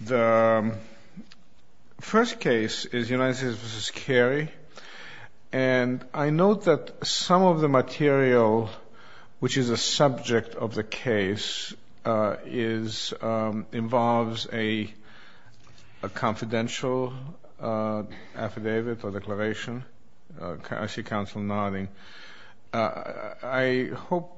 The first case is United States v. Carey, and I note that some of the material, which is the subject of the case, involves a confidential affidavit or declaration. I see counsel nodding. I hope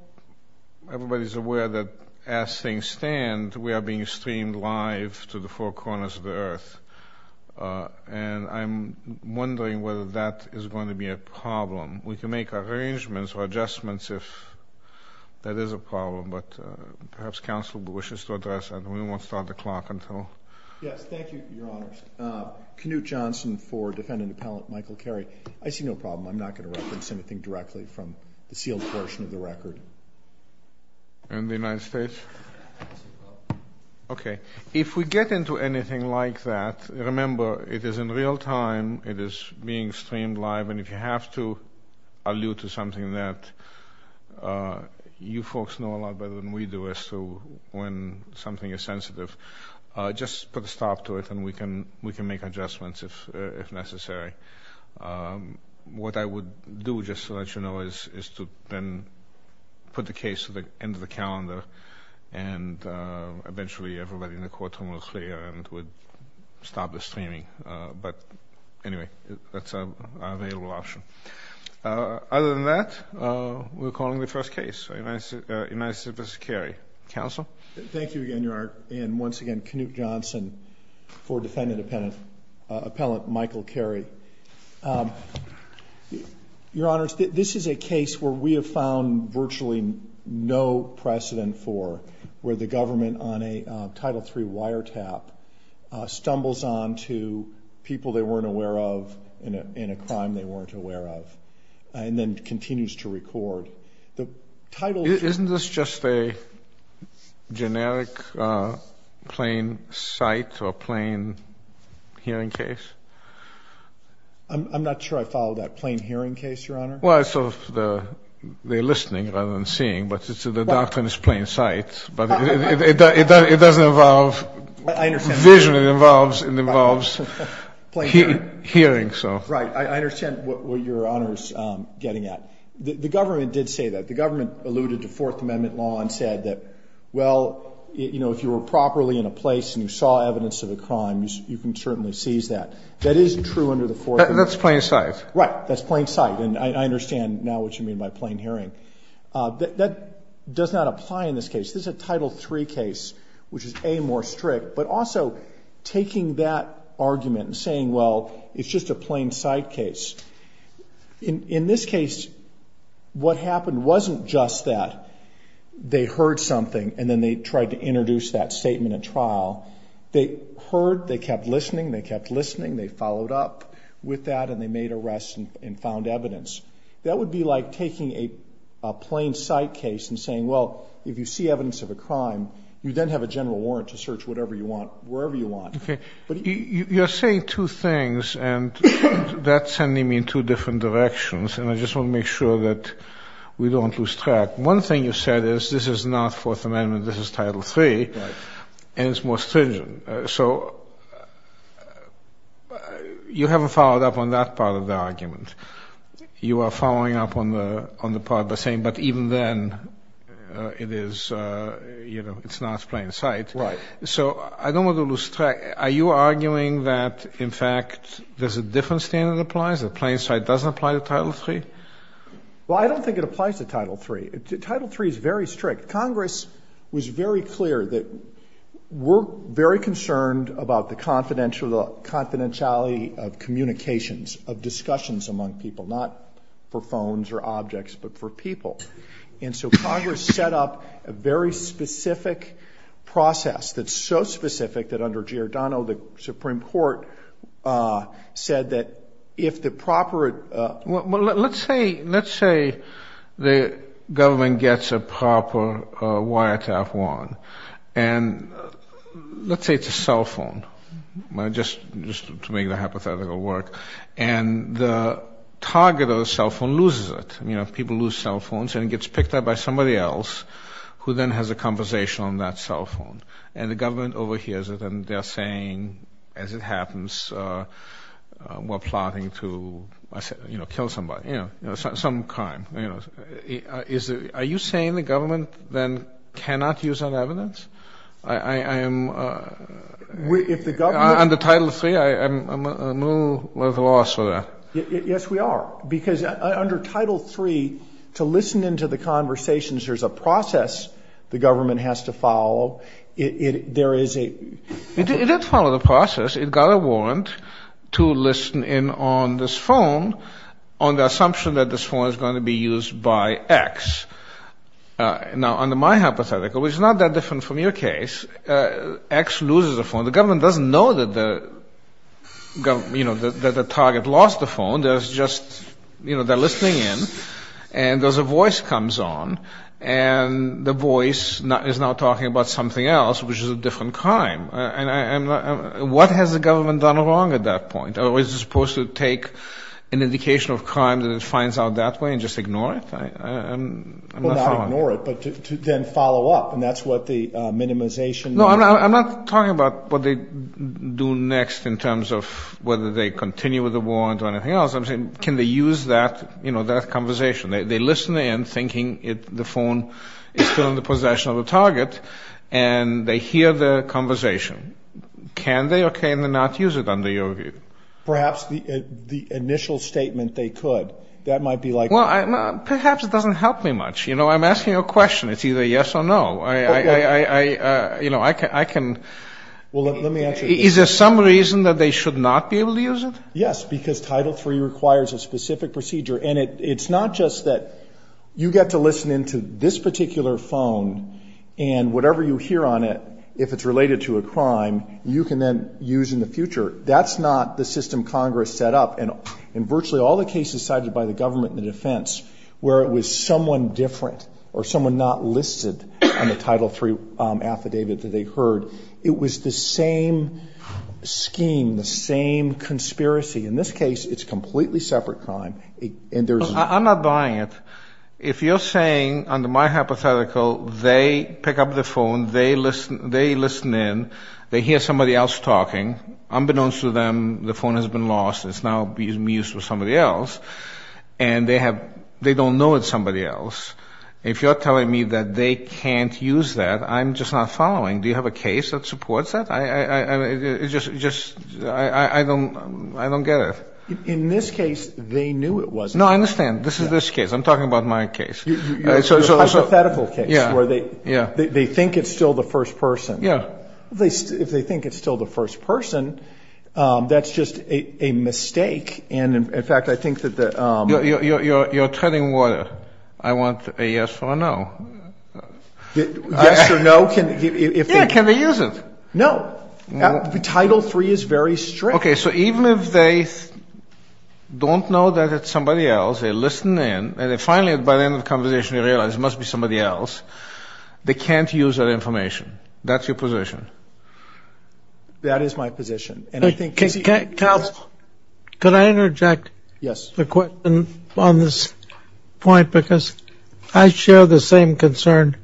everybody is aware that as things stand, we are being streamed live to the four corners of the earth, and I'm wondering whether that is going to be a problem. We can make arrangements or adjustments if that is a problem, but perhaps counsel wishes to address that. We won't start the clock until... Canute Johnson for Defendant Appellant Michael Carey. I see no problem. I'm not going to reference anything directly from the sealed portion of the record. And the United States? Okay. If we get into anything like that, remember, it is in real time, it is being streamed live, and if you have to allude to something that you folks know a lot better than we do as to when something is sensitive, just put a stop to it, and we can make adjustments if necessary. What I would do, just to let you know, is to then put the case to the end of the calendar, and eventually everybody in the courtroom will clear and it would stop the streaming. But anyway, that's an available option. Other than that, we're calling the first case, United States v. Carey. Counsel? Thank you again, Your Honor. And once again, Canute Johnson for Defendant Appellant Michael Carey. Your Honor, this is a case where we have found virtually no precedent for where the government on a Title III wiretap stumbles on to people they weren't aware of in a crime they weren't aware of, and then continues to record. Isn't this just a generic plain sight or plain hearing case? I'm not sure I follow that. Plain hearing case, Your Honor? Well, it's sort of the listening rather than seeing, but the doctrine is plain sight, but it doesn't involve vision, it involves hearing. Right. I understand what Your Honor is getting at. The government did say that. The government alluded to Fourth Amendment law and said that, well, if you were properly in a place and you saw evidence of a crime, you can certainly seize that. That is true under the Fourth Amendment. That's plain sight. Right. That's plain sight, and I understand now what you mean by plain hearing. That does not apply in this case. This is a Title III case, which is, A, more strict, but also taking that argument and saying, well, it's just a plain sight case. In this case, what happened wasn't just that they heard something and then they tried to introduce that statement at trial. They heard, they kept listening, they kept listening, they followed up with that, and they made arrests and found evidence. That would be like taking a plain sight case and saying, well, if you see evidence of a crime, you then have a general warrant to search whatever you want, wherever you want. You're saying two things, and that's sending me in two different directions, and I just want to make sure that we don't lose track. One thing you said is this is not Fourth Amendment, this is Title III, and it's more stringent. So you haven't followed up on that part of the argument. You are following up on the part by saying, but even then, it is, you know, it's not plain sight. Right. So I don't want to lose track. Are you arguing that, in fact, there's a different standard that applies, that plain sight doesn't apply to Title III? Well, I don't think it applies to Title III. Title III is very strict. Congress was very clear that we're very concerned about the confidentiality of communications, of discussions among people, not for phones or objects, but for people. And so Congress set up a very specific process that's so specific that under Giordano, the Supreme Court said that if the proper... and the target of the cell phone loses it, you know, people lose cell phones, and it gets picked up by somebody else who then has a conversation on that cell phone, and the government overhears it, and they're saying, as it happens, we're plotting to, you know, kill somebody, you know, some crime. Are you saying the government then cannot use that evidence? I am... If the government... Under Title III, I'm a little at a loss for that. Yes, we are, because under Title III, to listen into the conversations, there's a process the government has to follow. There is a... It did follow the process. It got a warrant to listen in on this phone on the assumption that this phone is going to be used by X. Now, under my hypothetical, which is not that different from your case, X loses the phone. Well, not ignore it, but to then follow up, and that's what the minimization... do next in terms of whether they continue with the warrant or anything else. I'm saying, can they use that, you know, that conversation? They listen in thinking the phone is still in the possession of the target, and they hear the conversation. Can they or can they not use it under your view? Perhaps the initial statement they could. That might be like... Well, perhaps it doesn't help me much. You know, I'm asking a question. It's either yes or no. Okay. Is there some reason that they should not be able to use it? Yes, because Title III requires a specific procedure, and it's not just that you get to listen into this particular phone and whatever you hear on it, if it's related to a crime, you can then use in the future. That's not the system Congress set up, and virtually all the cases cited by the government and the defense where it was someone different or someone not listed on the Title III affidavit that they heard, it was the same scheme, the same conspiracy. In this case, it's a completely separate crime, and there's... I'm not buying it. If you're saying, under my hypothetical, they pick up the phone, they listen in, they hear somebody else talking, unbeknownst to them, the phone has been lost, it's now being used with somebody else, and they don't know it's somebody else, if you're telling me that they can't use that, I'm just not following. Do you have a case that supports that? I don't get it. In this case, they knew it was. No, I understand. This is this case. I'm talking about my case. It's a hypothetical case where they think it's still the first person. Yeah. If they think it's still the first person, that's just a mistake, and in fact, I think that the... You're treading water. I want a yes or a no. Yes or no, if they... Yeah, can they use it? No. Title III is very strict. Okay, so even if they don't know that it's somebody else, they listen in, and then finally, by the end of the conversation, they realize it must be somebody else, they can't use that information. That's your position? That is my position, and I think... Counsel, could I interject? Yes. On this point, because I share the same concern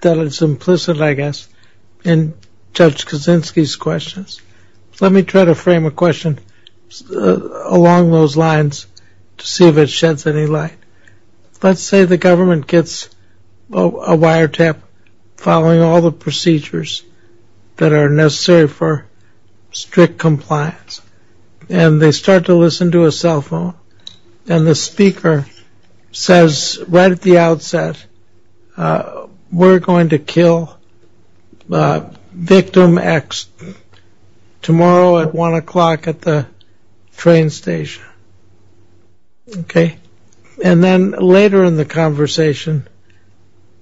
that is implicit, I guess, in Judge Kaczynski's questions. Let me try to frame a question along those lines to see if it sheds any light. Let's say the government gets a wiretap following all the procedures that are necessary for strict compliance, and they start to listen to a cell phone, and the speaker says right at the outset, we're going to kill victim X tomorrow at 1 o'clock at the train station, okay? And then later in the conversation,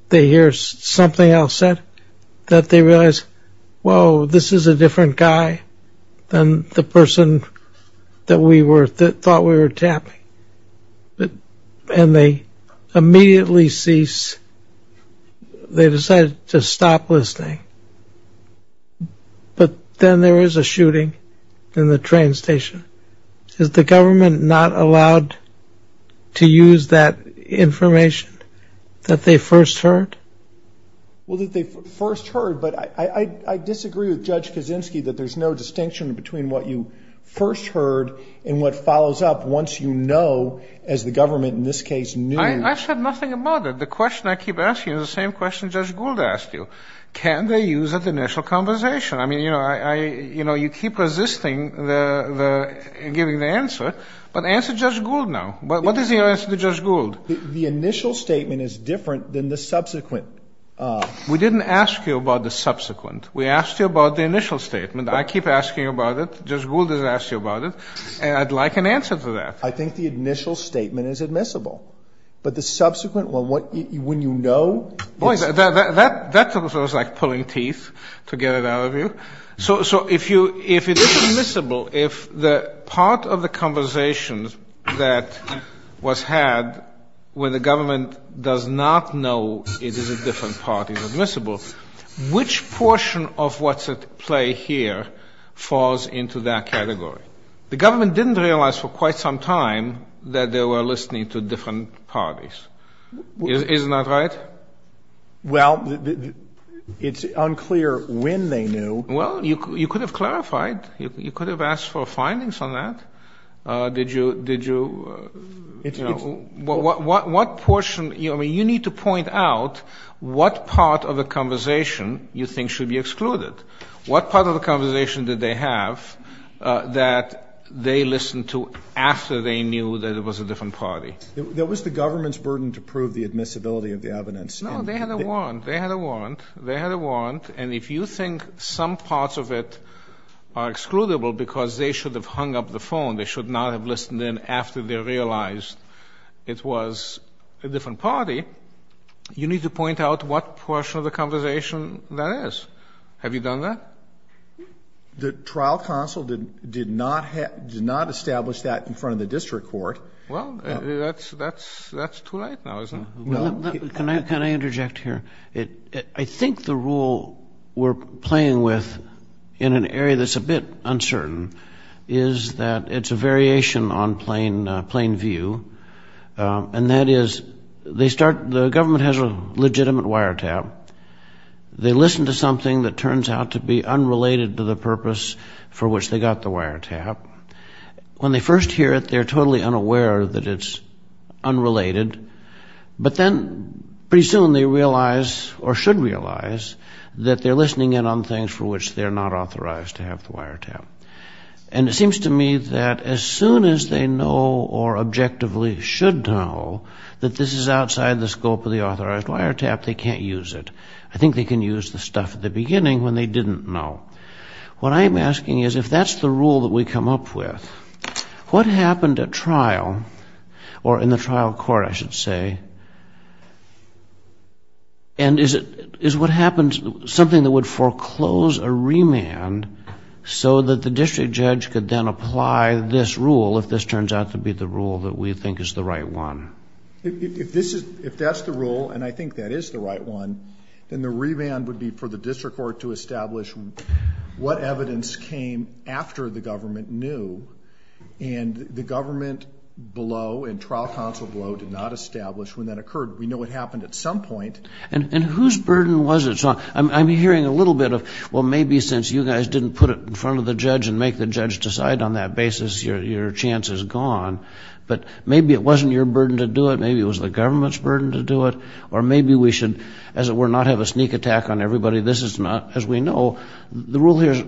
they hear something else said, that they realize, whoa, this is a different guy than the person that thought we were tapping. And they immediately cease. They decide to stop listening. But then there is a shooting in the train station. Is the government not allowed to use that information that they first heard? Well, that they first heard, but I disagree with Judge Kaczynski that there's no distinction between what you first heard and what follows up once you know, as the government in this case knew... I said nothing about it. The question I keep asking is the same question Judge Gould asked you. Can they use that initial conversation? I mean, you know, you keep resisting giving the answer, but answer Judge Gould now. What is your answer to Judge Gould? The initial statement is different than the subsequent. We didn't ask you about the subsequent. We asked you about the initial statement. I keep asking about it. Judge Gould has asked you about it. And I'd like an answer to that. I think the initial statement is admissible. But the subsequent one, when you know... That was like pulling teeth to get it out of you. So if it is admissible, if the part of the conversation that was had when the government does not know it is a different part is admissible, which portion of what's at play here falls into that category? The government didn't realize for quite some time that they were listening to different parties. Isn't that right? Well, it's unclear when they knew. Well, you could have clarified. You could have asked for findings on that. Did you, you know, what portion? I mean, you need to point out what part of the conversation you think should be excluded. What part of the conversation did they have that they listened to after they knew that it was a different party? That was the government's burden to prove the admissibility of the evidence. No, they had a warrant. They had a warrant. They had a warrant. And if you think some parts of it are excludable because they should have hung up the phone, they should not have listened in after they realized it was a different party, you need to point out what portion of the conversation that is. Have you done that? The trial counsel did not establish that in front of the district court. Well, that's too late now, isn't it? Can I interject here? I think the rule we're playing with in an area that's a bit uncertain is that it's a variation on plain view, and that is they start the government has a legitimate wiretap. They listen to something that turns out to be unrelated to the purpose for which they got the wiretap. When they first hear it, they're totally unaware that it's unrelated. But then pretty soon they realize, or should realize, that they're listening in on things for which they're not authorized to have the wiretap. And it seems to me that as soon as they know or objectively should know that this is outside the scope of the authorized wiretap, they can't use it. I think they can use the stuff at the beginning when they didn't know. What I'm asking is if that's the rule that we come up with, what happened at trial, or in the trial court, I should say, and is what happened something that would foreclose a remand so that the district judge could then apply this rule, if this turns out to be the rule that we think is the right one? If that's the rule, and I think that is the right one, then the remand would be for the district court to establish what evidence came after the government knew, and the government below and trial counsel below did not establish when that occurred. We know it happened at some point. And whose burden was it? I'm hearing a little bit of, well, maybe since you guys didn't put it in front of the judge and make the judge decide on that basis, your chance is gone. But maybe it wasn't your burden to do it. Maybe it was the government's burden to do it. Or maybe we should, as it were, not have a sneak attack on everybody. This is not, as we know, the rule here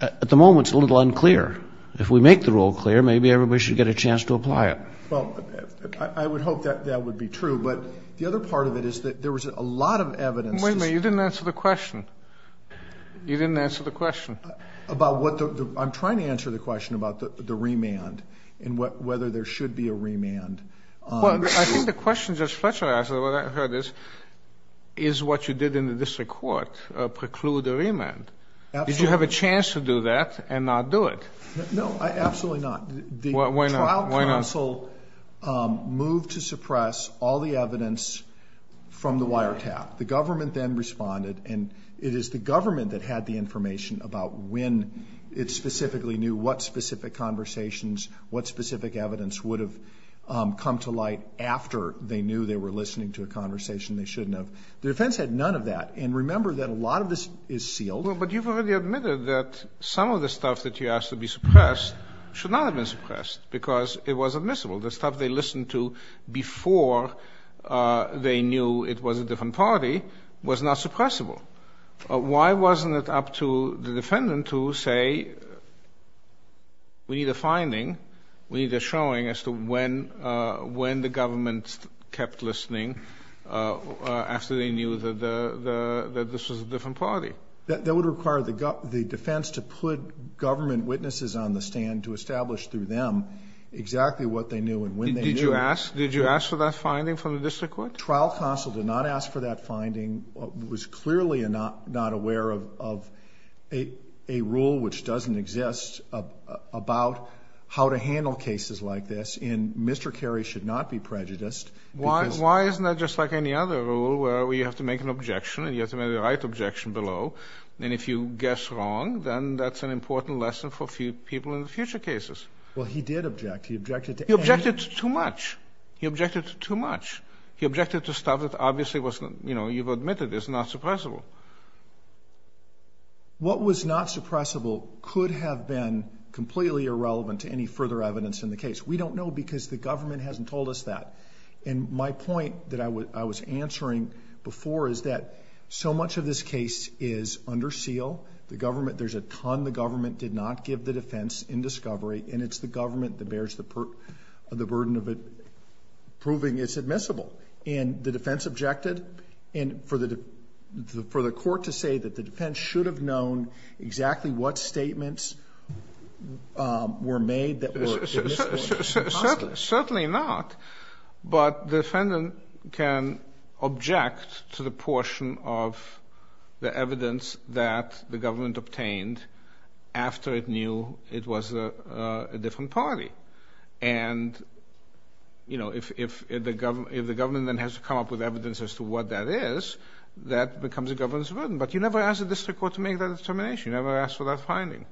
at the moment is a little unclear. If we make the rule clear, maybe everybody should get a chance to apply it. Well, I would hope that that would be true. But the other part of it is that there was a lot of evidence. Wait a minute. You didn't answer the question. You didn't answer the question. About what? I'm trying to answer the question about the remand and whether there should be a remand. Well, I think the question Judge Fletcher asked or what I heard is, is what you did in the district court preclude a remand? Absolutely. Did you have a chance to do that and not do it? No, absolutely not. Why not? The trial counsel moved to suppress all the evidence from the wiretap. The government then responded, and it is the government that had the information about when it specifically knew what specific conversations, what specific evidence would have come to light after they knew they were listening to a conversation they shouldn't have. The defense had none of that. And remember that a lot of this is sealed. Well, but you've already admitted that some of the stuff that you asked to be suppressed should not have been suppressed because it was admissible. The stuff they listened to before they knew it was a different party was not suppressible. Why wasn't it up to the defendant to say we need a finding, we need a showing as to when the government kept listening after they knew that this was a different party? That would require the defense to put government witnesses on the stand to establish through them exactly what they knew and when they knew it. Did you ask for that finding from the district court? The trial counsel did not ask for that finding, was clearly not aware of a rule which doesn't exist about how to handle cases like this, and Mr. Carey should not be prejudiced. Why isn't that just like any other rule where you have to make an objection and you have to make the right objection below, and if you guess wrong, then that's an important lesson for people in future cases. Well, he did object. He objected to too much. He objected to too much. He objected to stuff that obviously was, you know, you've admitted is not suppressible. What was not suppressible could have been completely irrelevant to any further evidence in the case. We don't know because the government hasn't told us that. And my point that I was answering before is that so much of this case is under seal. The government, there's a ton the government did not give the defense in discovery, and it's the government that bears the burden of it proving it's admissible. And the defense objected, and for the court to say that the defense should have known exactly what statements were made that were admissible. Certainly not. But the defendant can object to the portion of the evidence that the government obtained after it knew it was a different party. And, you know, if the government then has to come up with evidence as to what that is, that becomes a government's burden. But you never ask the district court to make that determination. You never ask for that finding.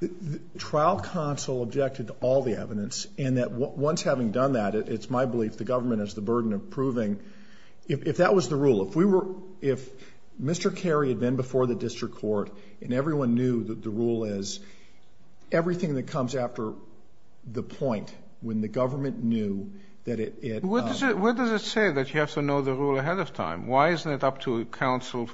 The trial counsel objected to all the evidence, and that once having done that, it's my belief the government has the burden of proving, if that was the rule, if Mr. Carey had been before the district court and everyone knew that the rule is, everything that comes after the point when the government knew that it... What does it say that you have to know the rule ahead of time? Why isn't it up to counsel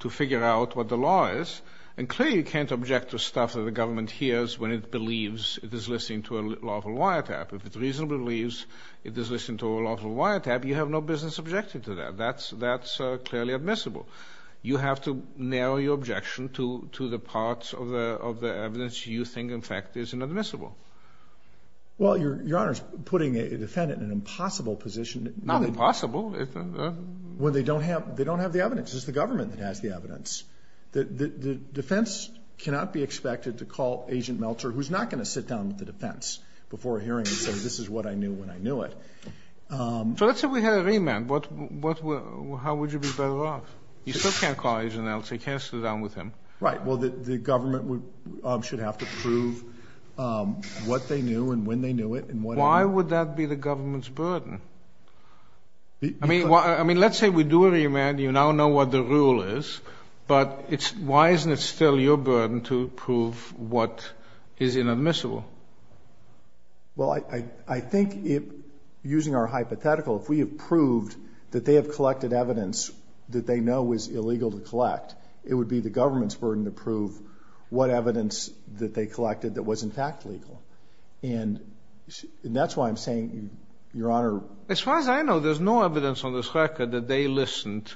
to figure out what the law is? And clearly you can't object to stuff that the government hears when it believes it is listening to a lawful wiretap. If it reasonably believes it is listening to a lawful wiretap, you have no business objecting to that. That's clearly admissible. You have to narrow your objection to the parts of the evidence you think, in fact, is inadmissible. Well, Your Honor, putting a defendant in an impossible position... Not impossible. When they don't have the evidence. It's the government that has the evidence. The defense cannot be expected to call Agent Meltzer, who's not going to sit down with the defense before a hearing and say, this is what I knew when I knew it. So let's say we had a remand. How would you be better off? You still can't call Agent Meltzer. You can't sit down with him. Right. Well, the government should have to prove what they knew and when they knew it. Why would that be the government's burden? I mean, let's say we do a remand. You now know what the rule is. But why isn't it still your burden to prove what is inadmissible? Well, I think using our hypothetical, if we have proved that they have collected evidence that they know is illegal to collect, it would be the government's burden to prove what evidence that they collected that was, in fact, legal. And that's why I'm saying, Your Honor. As far as I know, there's no evidence on this record that they listened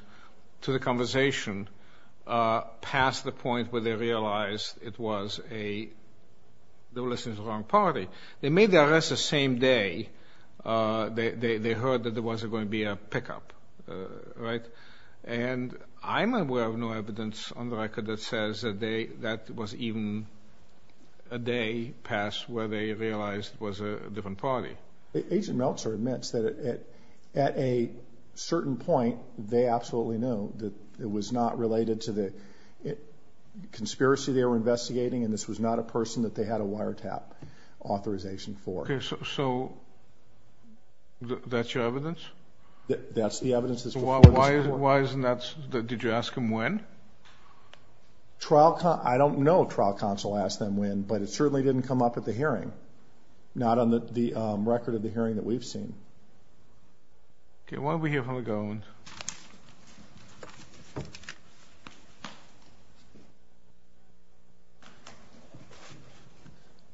to the conversation past the point where they realized they were listening to the wrong party. They made the arrest the same day they heard that there was going to be a pickup. Right? And I'm aware of no evidence on the record that says that that was even a day past where they realized it was a different party. Agent Meltzer admits that at a certain point, they absolutely knew that it was not related to the conspiracy they were investigating and this was not a person that they had a wiretap authorization for. So that's your evidence? That's the evidence that's before this Court. Why isn't that? Did you ask them when? I don't know. Trial counsel asked them when, but it certainly didn't come up at the hearing, not on the record of the hearing that we've seen. Okay. Why don't we hear from the government?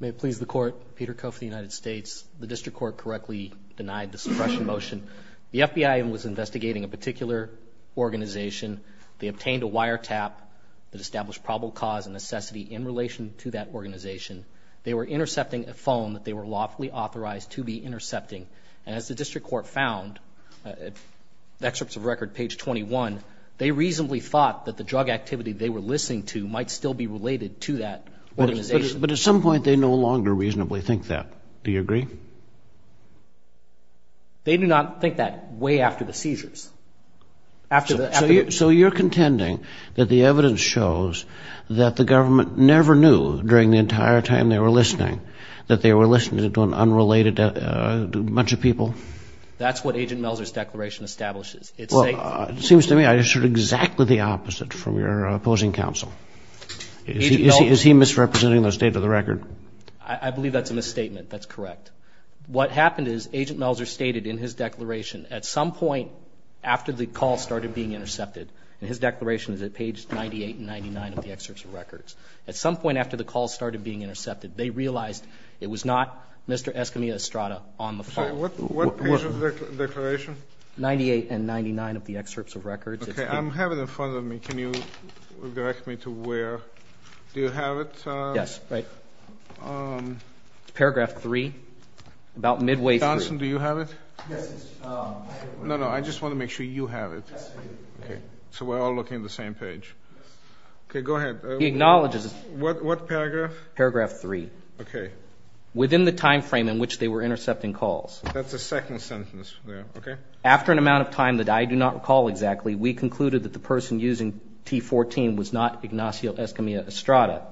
May it please the Court. Peter Koff of the United States. The District Court correctly denied the suppression motion. The FBI was investigating a particular organization. They obtained a wiretap that established probable cause and necessity in relation to that organization. They were intercepting a phone that they were lawfully authorized to be intercepting. And as the District Court found, excerpts of record page 21, they reasonably thought that the drug activity they were listening to might still be related to that organization. But at some point they no longer reasonably think that. Do you agree? They do not think that way after the seizures. So you're contending that the evidence shows that the government never knew during the entire time they were listening that they were listening to an unrelated bunch of people? That's what Agent Melser's declaration establishes. It seems to me I just heard exactly the opposite from your opposing counsel. Is he misrepresenting the state of the record? I believe that's a misstatement. That's correct. What happened is Agent Melser stated in his declaration at some point after the call started being intercepted, and his declaration is at page 98 and 99 of the excerpts of records, at some point after the call started being intercepted, they realized it was not Mr. Escamilla Estrada on the phone. So what page of the declaration? 98 and 99 of the excerpts of records. Okay, I have it in front of me. Can you direct me to where? Do you have it? Yes, right. It's paragraph 3, about midway through. Johnson, do you have it? Yes. No, no, I just want to make sure you have it. Yes, I do. Okay, so we're all looking at the same page. Yes. Okay, go ahead. He acknowledges it. What paragraph? Paragraph 3. Okay. Within the time frame in which they were intercepting calls. That's the second sentence there, okay? After an amount of time that I do not recall exactly, we concluded that the person using T-14 was not Ignacio Escamilla Estrada.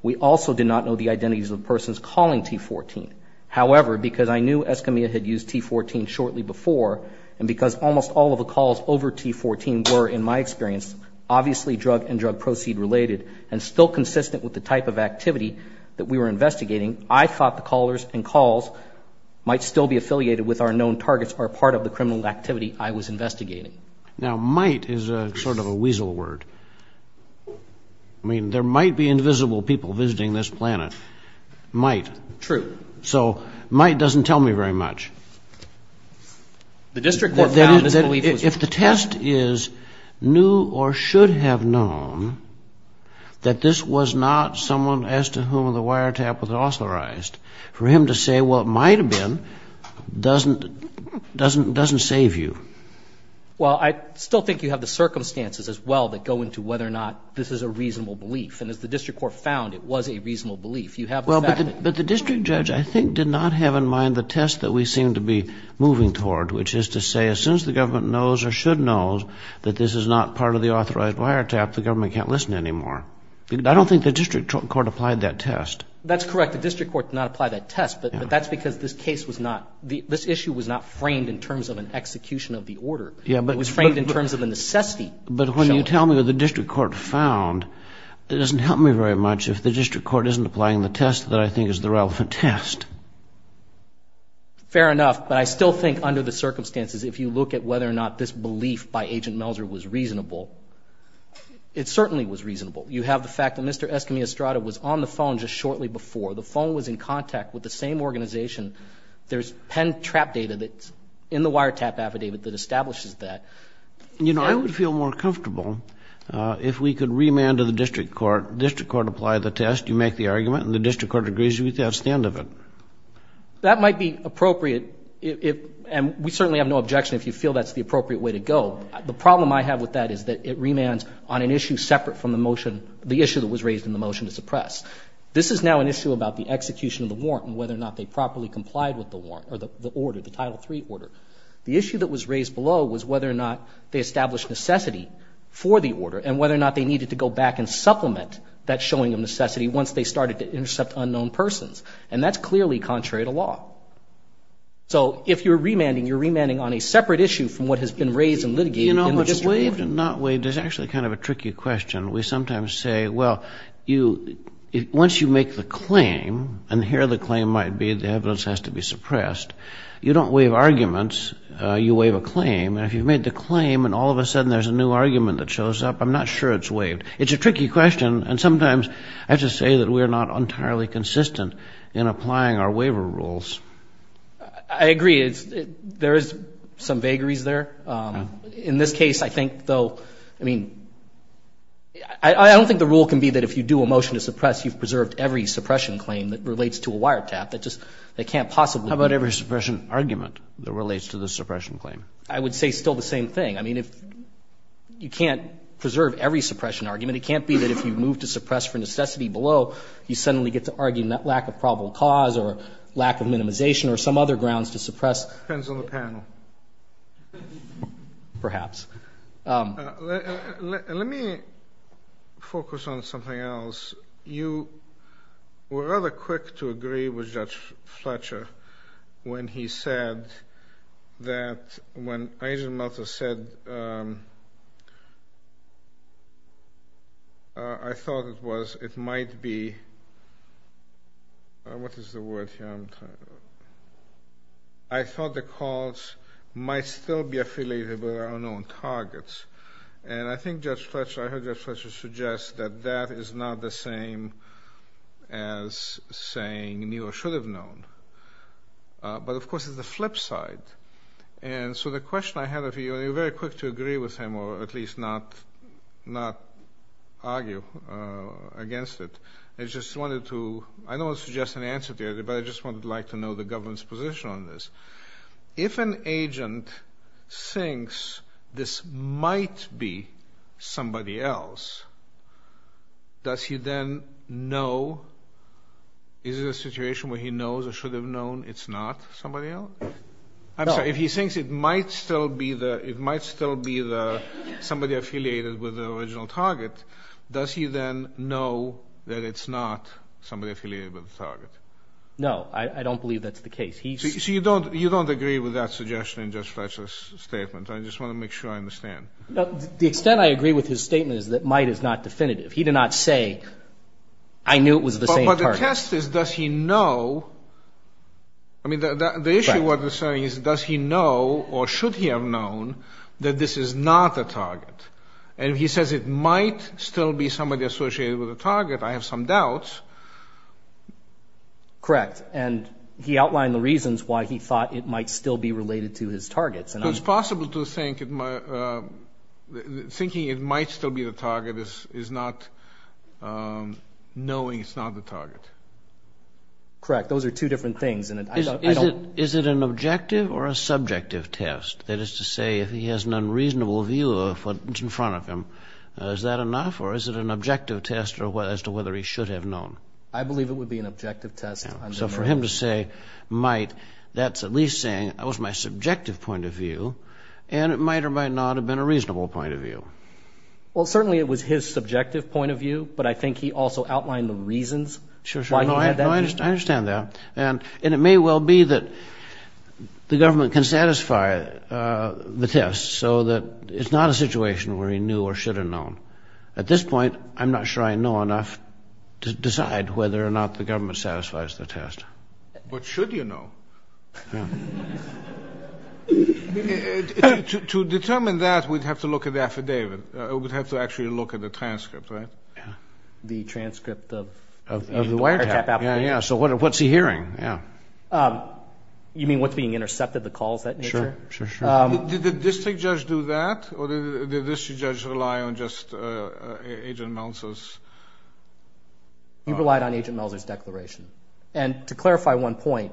We also did not know the identities of the persons calling T-14. However, because I knew Escamilla had used T-14 shortly before, and because almost all of the calls over T-14 were, in my experience, obviously drug and drug proceed related, and still consistent with the type of activity that we were investigating, I thought the callers and calls might still be affiliated with our known targets or part of the criminal activity I was investigating. Now, might is sort of a weasel word. I mean, there might be invisible people visiting this planet. Might. True. So might doesn't tell me very much. The district court found that this belief was true. If the test is knew or should have known that this was not someone as to whom the wiretap was authorized, for him to say, well, it might have been, doesn't save you. Well, I still think you have the circumstances as well that go into whether or not this is a reasonable belief. And as the district court found, it was a reasonable belief. But the district judge, I think, did not have in mind the test that we seem to be moving toward, which is to say as soon as the government knows or should know that this is not part of the authorized wiretap, the government can't listen anymore. I don't think the district court applied that test. That's correct. The district court did not apply that test. But that's because this case was not, this issue was not framed in terms of an execution of the order. It was framed in terms of a necessity. But when you tell me what the district court found, it doesn't help me very much if the district court isn't applying the test that I think is the relevant test. Fair enough. But I still think under the circumstances, if you look at whether or not this belief by Agent Melser was reasonable, it certainly was reasonable. You have the fact that Mr. Escamillo-Estrada was on the phone just shortly before. The phone was in contact with the same organization. There's pen trap data that's in the wiretap affidavit that establishes that. You know, I would feel more comfortable if we could remand to the district court, district court apply the test, you make the argument, and the district court agrees with you. That's the end of it. That might be appropriate. And we certainly have no objection if you feel that's the appropriate way to go. So the problem I have with that is that it remands on an issue separate from the motion, the issue that was raised in the motion to suppress. This is now an issue about the execution of the warrant and whether or not they properly complied with the warrant or the order, the Title III order. The issue that was raised below was whether or not they established necessity for the order and whether or not they needed to go back and supplement that showing of necessity once they started to intercept unknown persons. And that's clearly contrary to law. So if you're remanding, you're remanding on a separate issue from what has been raised and litigated in the district court. You know, if it's waived and not waived, there's actually kind of a tricky question. We sometimes say, well, once you make the claim, and here the claim might be the evidence has to be suppressed, you don't waive arguments, you waive a claim, and if you've made the claim and all of a sudden there's a new argument that shows up, I'm not sure it's waived. It's a tricky question, and sometimes I have to say that we're not entirely consistent in applying our waiver rules. I agree. There is some vagaries there. In this case, I think, though, I mean, I don't think the rule can be that if you do a motion to suppress, you've preserved every suppression claim that relates to a wiretap. They can't possibly be. How about every suppression argument that relates to the suppression claim? I would say still the same thing. I mean, you can't preserve every suppression argument. It can't be that if you move to suppress for necessity below, you suddenly get to argue lack of probable cause or lack of minimization or some other grounds to suppress. It depends on the panel. Perhaps. Let me focus on something else. You were rather quick to agree with Judge Fletcher when he said that when Agent Meltzer said, I thought it was, it might be, what is the word here? I thought the calls might still be affiliated with unknown targets. And I think Judge Fletcher, I heard Judge Fletcher suggest that that is not the same as saying neither should have known. But, of course, it's the flip side. And so the question I have for you, and you were very quick to agree with him or at least not argue against it. I just wanted to, I don't want to suggest an answer to you, but I just wanted to like to know the government's position on this. If an agent thinks this might be somebody else, does he then know, is it a situation where he knows or should have known it's not somebody else? I'm sorry, if he thinks it might still be somebody affiliated with the original target, does he then know that it's not somebody affiliated with the target? No, I don't believe that's the case. So you don't agree with that suggestion in Judge Fletcher's statement. I just want to make sure I understand. The extent I agree with his statement is that might is not definitive. He did not say, I knew it was the same target. The test is, does he know? I mean, the issue is, does he know or should he have known that this is not the target? And if he says it might still be somebody associated with the target, I have some doubts. Correct. And he outlined the reasons why he thought it might still be related to his targets. So it's possible to think thinking it might still be the target is not knowing it's not the target. Correct. Those are two different things. Is it an objective or a subjective test? That is to say, if he has an unreasonable view of what's in front of him, is that enough? Or is it an objective test as to whether he should have known? I believe it would be an objective test. So for him to say might, that's at least saying that was my subjective point of view, and it might or might not have been a reasonable point of view. Well, certainly it was his subjective point of view, but I think he also outlined the reasons why he had that view. I understand that. And it may well be that the government can satisfy the test so that it's not a situation where he knew or should have known. At this point, I'm not sure I know enough to decide whether or not the government satisfies the test. But should you know? To determine that, we'd have to look at the affidavit. We'd have to actually look at the transcript, right? The transcript of the wiretap application. Yeah, so what's he hearing? You mean what's being intercepted, the calls of that nature? Sure, sure, sure. Did the district judge do that, or did the district judge rely on just Agent Melser's? He relied on Agent Melser's declaration. And to clarify one point,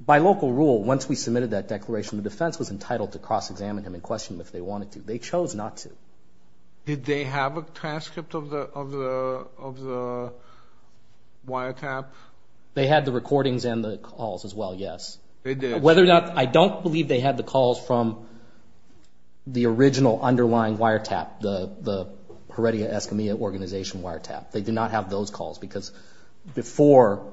by local rule, once we submitted that declaration, the defense was entitled to cross-examine him and question him if they wanted to. They chose not to. Did they have a transcript of the wiretap? They had the recordings and the calls as well, yes. They did? Whether or not, I don't believe they had the calls from the original underlying wiretap, the Heredia Escamilla Organization wiretap. They did not have those calls because before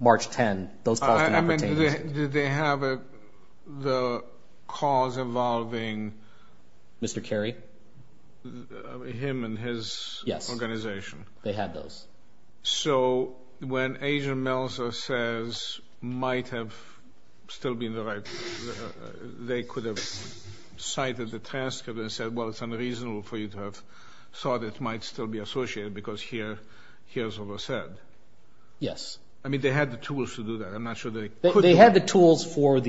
March 10, those calls did not pertain. Did they have the calls involving? Mr. Carey? Him and his organization. Yes, they had those. So when Agent Melser says might have still been the right, they could have cited the transcript and said, well, it's unreasonable for you to have thought it might still be associated because here's what was said. Yes. I mean, they had the tools to do that. I'm not sure they could have. They had the tools for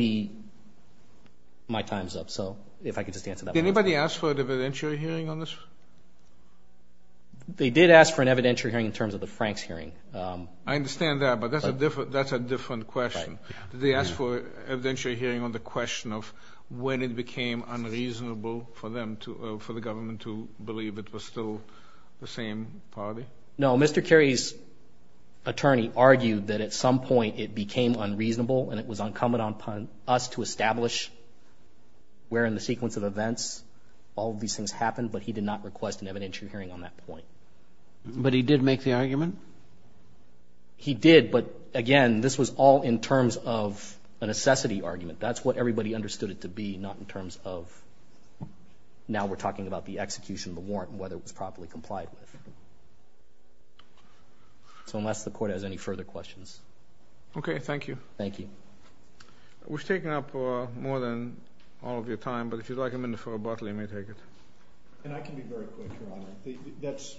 my time's up, so if I could just answer that. Did anybody ask for an evidentiary hearing on this? They did ask for an evidentiary hearing in terms of the Franks hearing. I understand that, but that's a different question. Did they ask for an evidentiary hearing on the question of when it became unreasonable for them to, for the government to believe it was still the same party? No, Mr. Carey's attorney argued that at some point it became unreasonable and it was uncommon upon us to establish where in the sequence of events all of these things happened, but he did not request an evidentiary hearing on that point. But he did make the argument? He did, but, again, this was all in terms of a necessity argument. That's what everybody understood it to be, not in terms of now we're talking about the execution of the warrant and whether it was properly complied with. So unless the Court has any further questions. Okay. Thank you. Thank you. We've taken up more than all of your time, but if you'd like a minute for rebuttal, you may take it. And I can be very quick, Your Honor. That's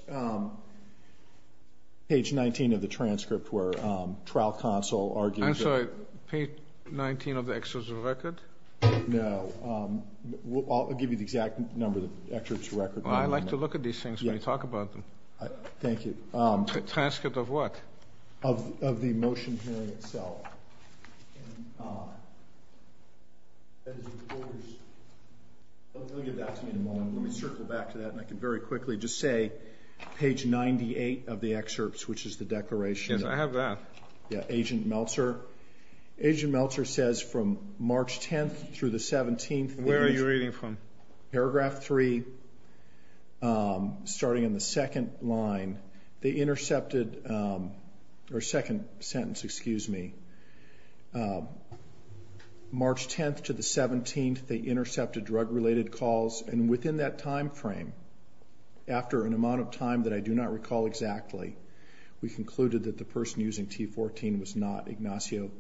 page 19 of the transcript where trial counsel argues that. I'm sorry, page 19 of the excerpt of the record? No. I'll give you the exact number of the excerpt of the record. I like to look at these things when you talk about them. Thank you. Transcript of what? Of the motion hearing itself. Let me circle back to that, and I can very quickly just say page 98 of the excerpt, which is the declaration. Yes, I have that. Yeah, Agent Meltzer. Agent Meltzer says from March 10th through the 17th. Where are you reading from? Paragraph 3, starting in the second line, they intercepted, or second sentence, excuse me. March 10th to the 17th, they intercepted drug-related calls. And within that time frame, after an amount of time that I do not recall exactly, we concluded that the person using T14 was not Ignacio,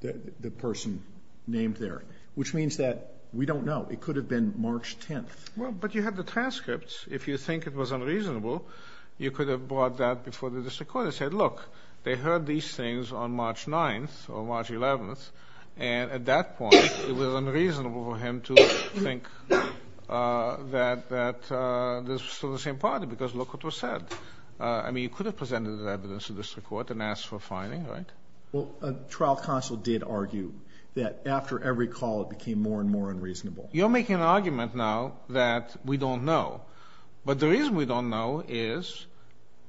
the person named there. Which means that we don't know. It could have been March 10th. Well, but you have the transcripts. If you think it was unreasonable, you could have brought that before the district court and said, look, they heard these things on March 9th or March 11th, and at that point it was unreasonable for him to think that this was from the same party because look what was said. I mean, you could have presented that evidence to the district court and asked for a finding, right? Well, a trial counsel did argue that after every call it became more and more unreasonable. You're making an argument now that we don't know. But the reason we don't know is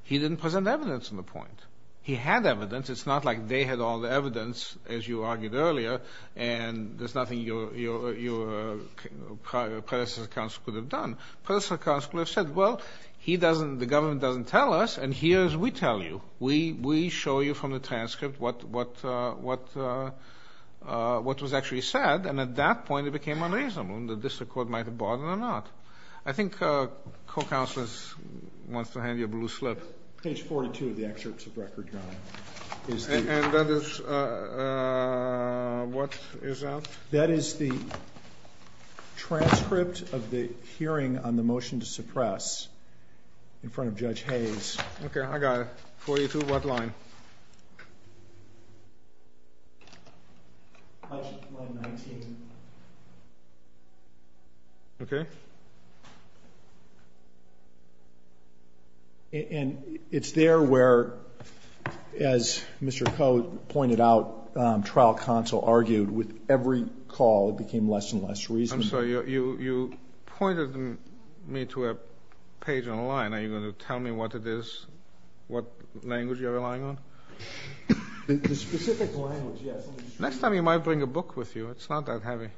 he didn't present evidence on the point. He had evidence. It's not like they had all the evidence, as you argued earlier, and there's nothing your predecessor counsel could have done. Predecessor counsel could have said, well, he doesn't, the government doesn't tell us, and here's what we tell you. We show you from the transcript what was actually said, and at that point it became unreasonable. The district court might have brought it or not. I think co-counsel wants to hand you a blue slip. Page 42 of the excerpts of record, John. And that is, what is that? That is the transcript of the hearing on the motion to suppress in front of Judge Hayes. Okay. I got it. 42, what line? Line 19. Okay. And it's there where, as Mr. Coe pointed out, trial counsel argued with every call it became less and less reasonable. I'm sorry. You pointed me to a page on the line. Are you going to tell me what it is, what language you're relying on? The specific language, yes. Next time you might bring a book with you. It's not that heavy.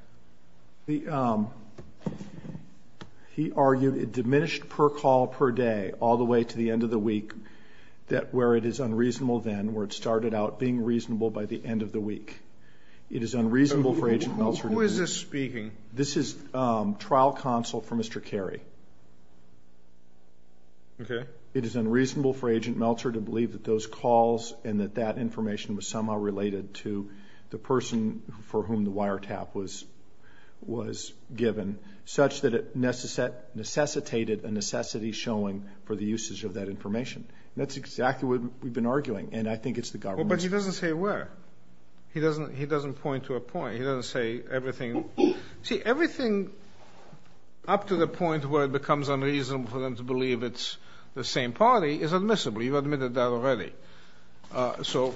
He argued it diminished per call per day all the way to the end of the week where it is unreasonable then, where it started out being reasonable by the end of the week. It is unreasonable for Agent Meltzer to do that. Who is this speaking? This is trial counsel for Mr. Carey. Okay. It is unreasonable for Agent Meltzer to believe that those calls and that that information was somehow related to the person for whom the wiretap was given, such that it necessitated a necessity showing for the usage of that information. That's exactly what we've been arguing, and I think it's the government's fault. But he doesn't say where. He doesn't point to a point. He doesn't say everything. See, everything up to the point where it becomes unreasonable for them to believe it's the same party is admissible. You've admitted that already. So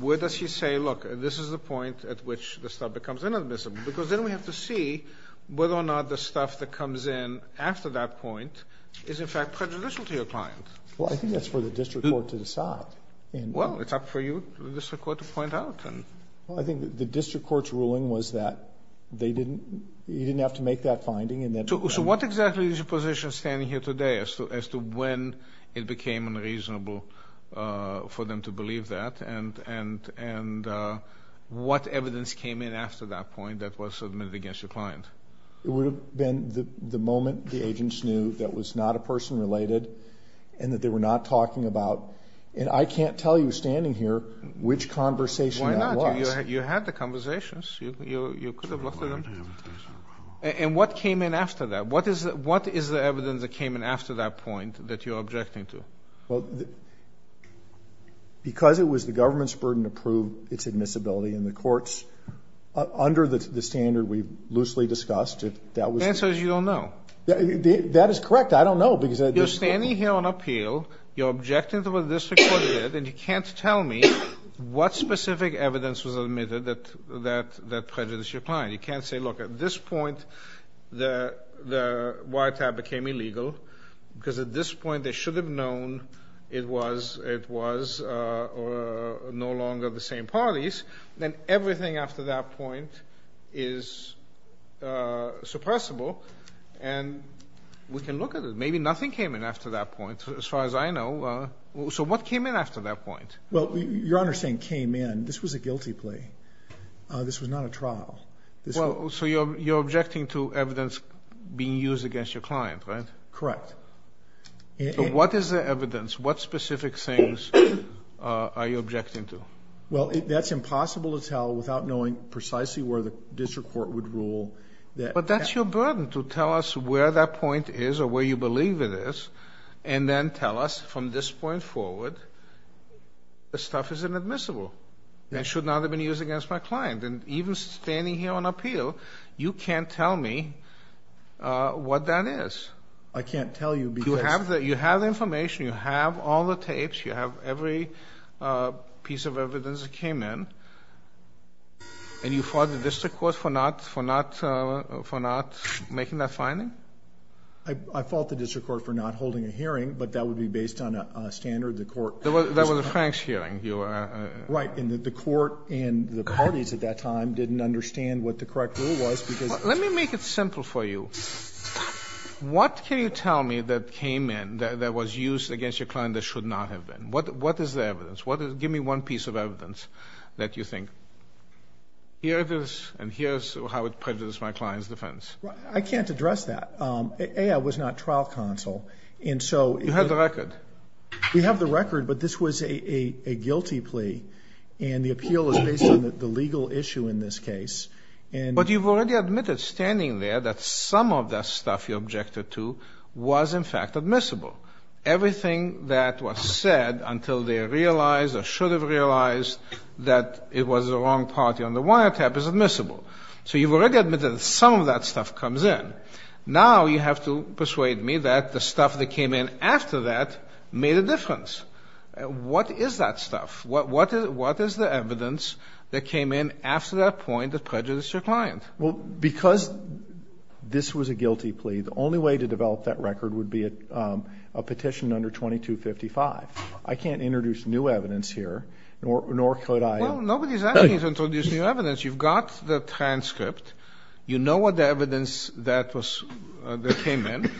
where does he say, look, this is the point at which the stuff becomes inadmissible? Because then we have to see whether or not the stuff that comes in after that point is, in fact, prejudicial to your client. Well, I think that's for the district court to decide. Well, it's up for you, the district court, to point out. Well, I think the district court's ruling was that you didn't have to make that finding. So what exactly is your position standing here today as to when it became unreasonable for them to believe that and what evidence came in after that point that was submitted against your client? It would have been the moment the agents knew that was not a person related and that they were not talking about. And I can't tell you standing here which conversation it was. Well, you had the conversations. You could have looked at them. And what came in after that? What is the evidence that came in after that point that you're objecting to? Well, because it was the government's burden to prove its admissibility in the courts, under the standard we loosely discussed, if that was the case. The answer is you don't know. That is correct. I don't know. You're standing here on appeal. You're objecting to what the district court did, and you can't tell me what specific evidence was admitted that prejudiced your client. You can't say, look, at this point the wiretap became illegal because at this point they should have known it was no longer the same parties. Then everything after that point is suppressible, and we can look at it. Maybe nothing came in after that point, as far as I know. So what came in after that point? Well, Your Honor's saying came in. This was a guilty plea. This was not a trial. So you're objecting to evidence being used against your client, right? Correct. So what is the evidence? What specific things are you objecting to? Well, that's impossible to tell without knowing precisely where the district court would rule. But that's your burden to tell us where that point is or where you believe it is and then tell us from this point forward the stuff is inadmissible and should not have been used against my client. And even standing here on appeal, you can't tell me what that is. I can't tell you because... You have the information. You have all the tapes. You have every piece of evidence that came in. And you fault the district court for not making that finding? I fault the district court for not holding a hearing, but that would be based on a standard the court... That was a Frank's hearing. Right, and the court and the parties at that time didn't understand what the correct rule was because... Let me make it simple for you. What can you tell me that came in that was used against your client that should not have been? What is the evidence? Give me one piece of evidence that you think... Here it is, and here's how it privileges my client's defense. I can't address that. AI was not trial counsel, and so... You have the record. We have the record, but this was a guilty plea, and the appeal is based on the legal issue in this case. But you've already admitted standing there that some of the stuff you objected to was in fact admissible. Everything that was said until they realized or should have realized that it was the wrong party on the wiretap is admissible. So you've already admitted that some of that stuff comes in. Now you have to persuade me that the stuff that came in after that made a difference. What is that stuff? What is the evidence that came in after that point that prejudiced your client? Well, because this was a guilty plea, the only way to develop that record would be a petition under 2255. I can't introduce new evidence here, nor could I... Well, nobody's asking you to introduce new evidence. You've got the transcript. You know what the evidence that came in.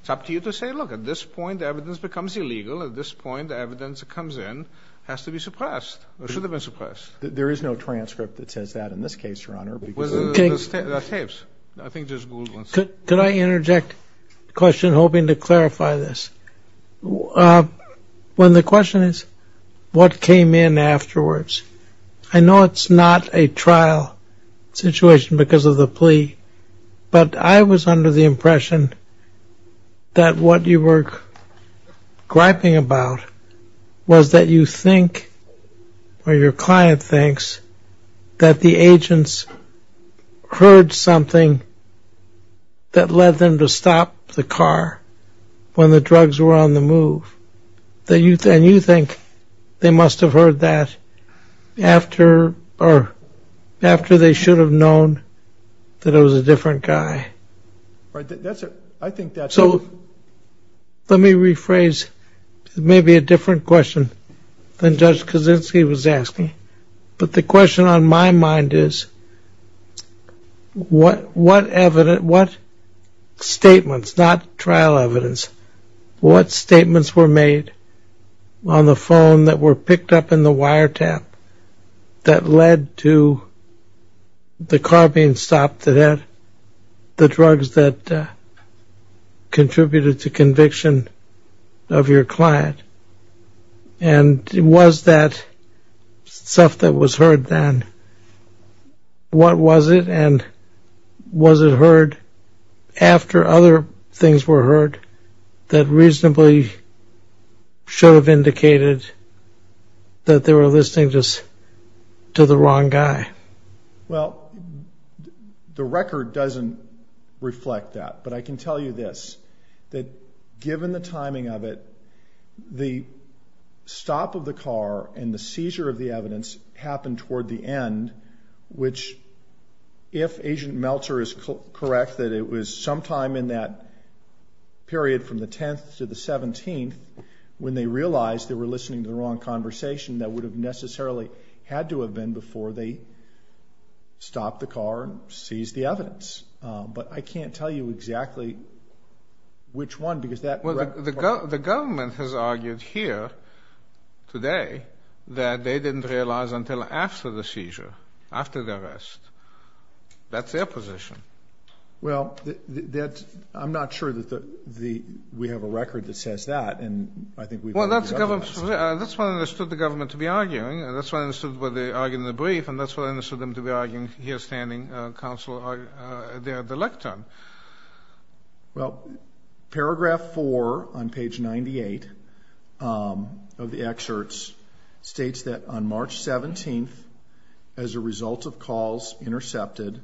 It's up to you to say, look, at this point the evidence becomes illegal. At this point the evidence that comes in has to be suppressed or should have been suppressed. There is no transcript that says that in this case, Your Honor. With the tapes, I think there's good ones. Could I interject a question hoping to clarify this? When the question is what came in afterwards, I know it's not a trial situation because of the plea, but I was under the impression that what you were griping about was that you think or your client thinks that the agents heard something that led them to stop the car when the drugs were on the move. And you think they must have heard that after they should have known that it was a different guy. I think that's... So let me rephrase. It may be a different question than Judge Kaczynski was asking, but the question on my mind is what evidence, what statements, not trial evidence, what statements were made on the phone that were picked up in the wiretap that led to the car being stopped that had the drugs that contributed to conviction of your client? And was that stuff that was heard then, what was it? And was it heard after other things were heard that reasonably should have indicated that they were listening to the wrong guy? Well, the record doesn't reflect that. But I can tell you this, that given the timing of it, the stop of the car and the seizure of the evidence happened toward the end, which if Agent Meltzer is correct that it was sometime in that period from the 10th to the 17th when they realized they were listening to the wrong conversation that would have necessarily had to have been before they stopped the car and seized the evidence. But I can't tell you exactly which one because that... Well, the government has argued here today that they didn't realize until after the seizure, after the arrest. That's their position. Well, I'm not sure that we have a record that says that. Well, that's what I understood the government to be arguing. That's what I understood what they argued in the brief, and that's what I understood them to be arguing here standing there at the lectern. Well, paragraph 4 on page 98 of the excerpts states that on March 17th, as a result of calls intercepted,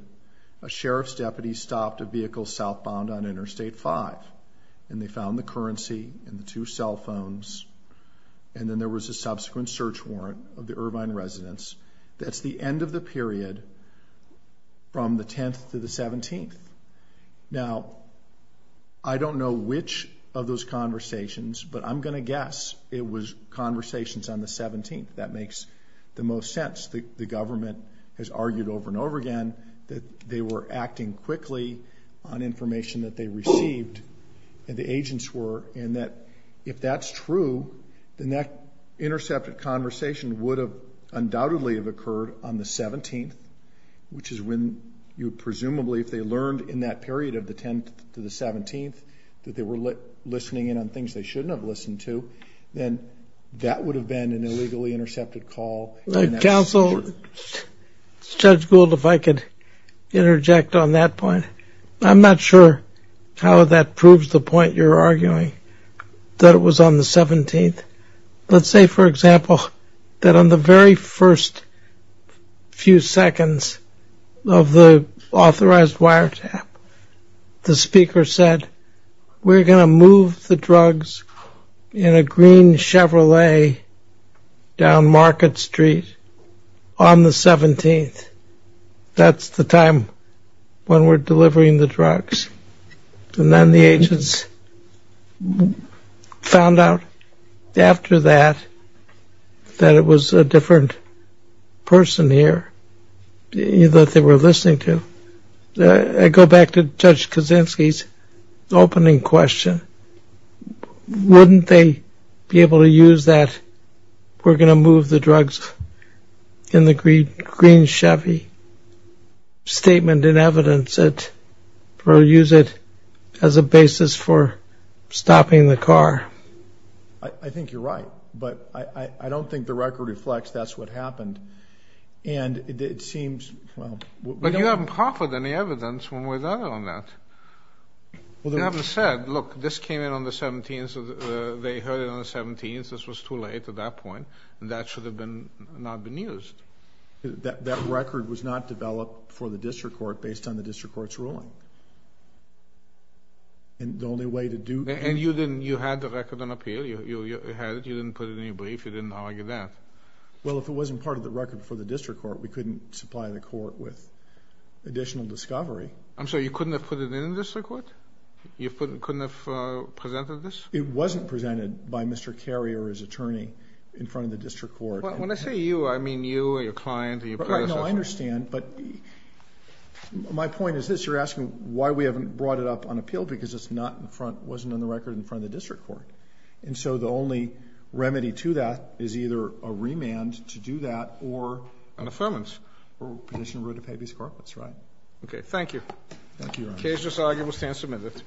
a sheriff's deputy stopped a vehicle southbound on Interstate 5, and they found the currency and the two cell phones, and then there was a subsequent search warrant of the Irvine residents. That's the end of the period from the 10th to the 17th. Now, I don't know which of those conversations, but I'm going to guess it was conversations on the 17th. That makes the most sense. The government has argued over and over again that they were acting quickly on information that they received, and the agents were, and that if that's true, then that intercepted conversation would have undoubtedly have occurred on the 17th, which is when you presumably, if they learned in that period of the 10th to the 17th, that they were listening in on things they shouldn't have listened to, then that would have been an illegally intercepted call. Counsel, Judge Gould, if I could interject on that point. I'm not sure how that proves the point you're arguing, that it was on the 17th. Let's say, for example, that on the very first few seconds of the authorized wiretap, the speaker said, we're going to move the drugs in a green Chevrolet down Market Street on the 17th. That's the time when we're delivering the drugs. And then the agents found out after that that it was a different person here that they were listening to. I go back to Judge Kaczynski's opening question. Wouldn't they be able to use that, we're going to move the drugs in the green Chevy, statement in evidence that they'll use it as a basis for stopping the car? I think you're right, but I don't think the record reflects that's what happened. But you haven't proffered any evidence when we're done on that. You haven't said, look, this came in on the 17th, they heard it on the 17th, this was too late at that point, and that should have not been used. That record was not developed for the district court based on the district court's ruling. And you had the record on appeal, you had it, you didn't put it in your brief, you didn't argue that. Well, if it wasn't part of the record for the district court, we couldn't supply the court with additional discovery. I'm sorry, you couldn't have put it in the district court? You couldn't have presented this? It wasn't presented by Mr. Carrier, his attorney, in front of the district court. When I say you, I mean you and your client. No, I understand, but my point is this. You're asking why we haven't brought it up on appeal because it's not in front, wasn't on the record in front of the district court. And so the only remedy to that is either a remand to do that or... An affirmance. Or a petition to rid of Habeas Carpenter, that's right. Okay, thank you. Thank you, Your Honor. The case is argued and will stand submitted.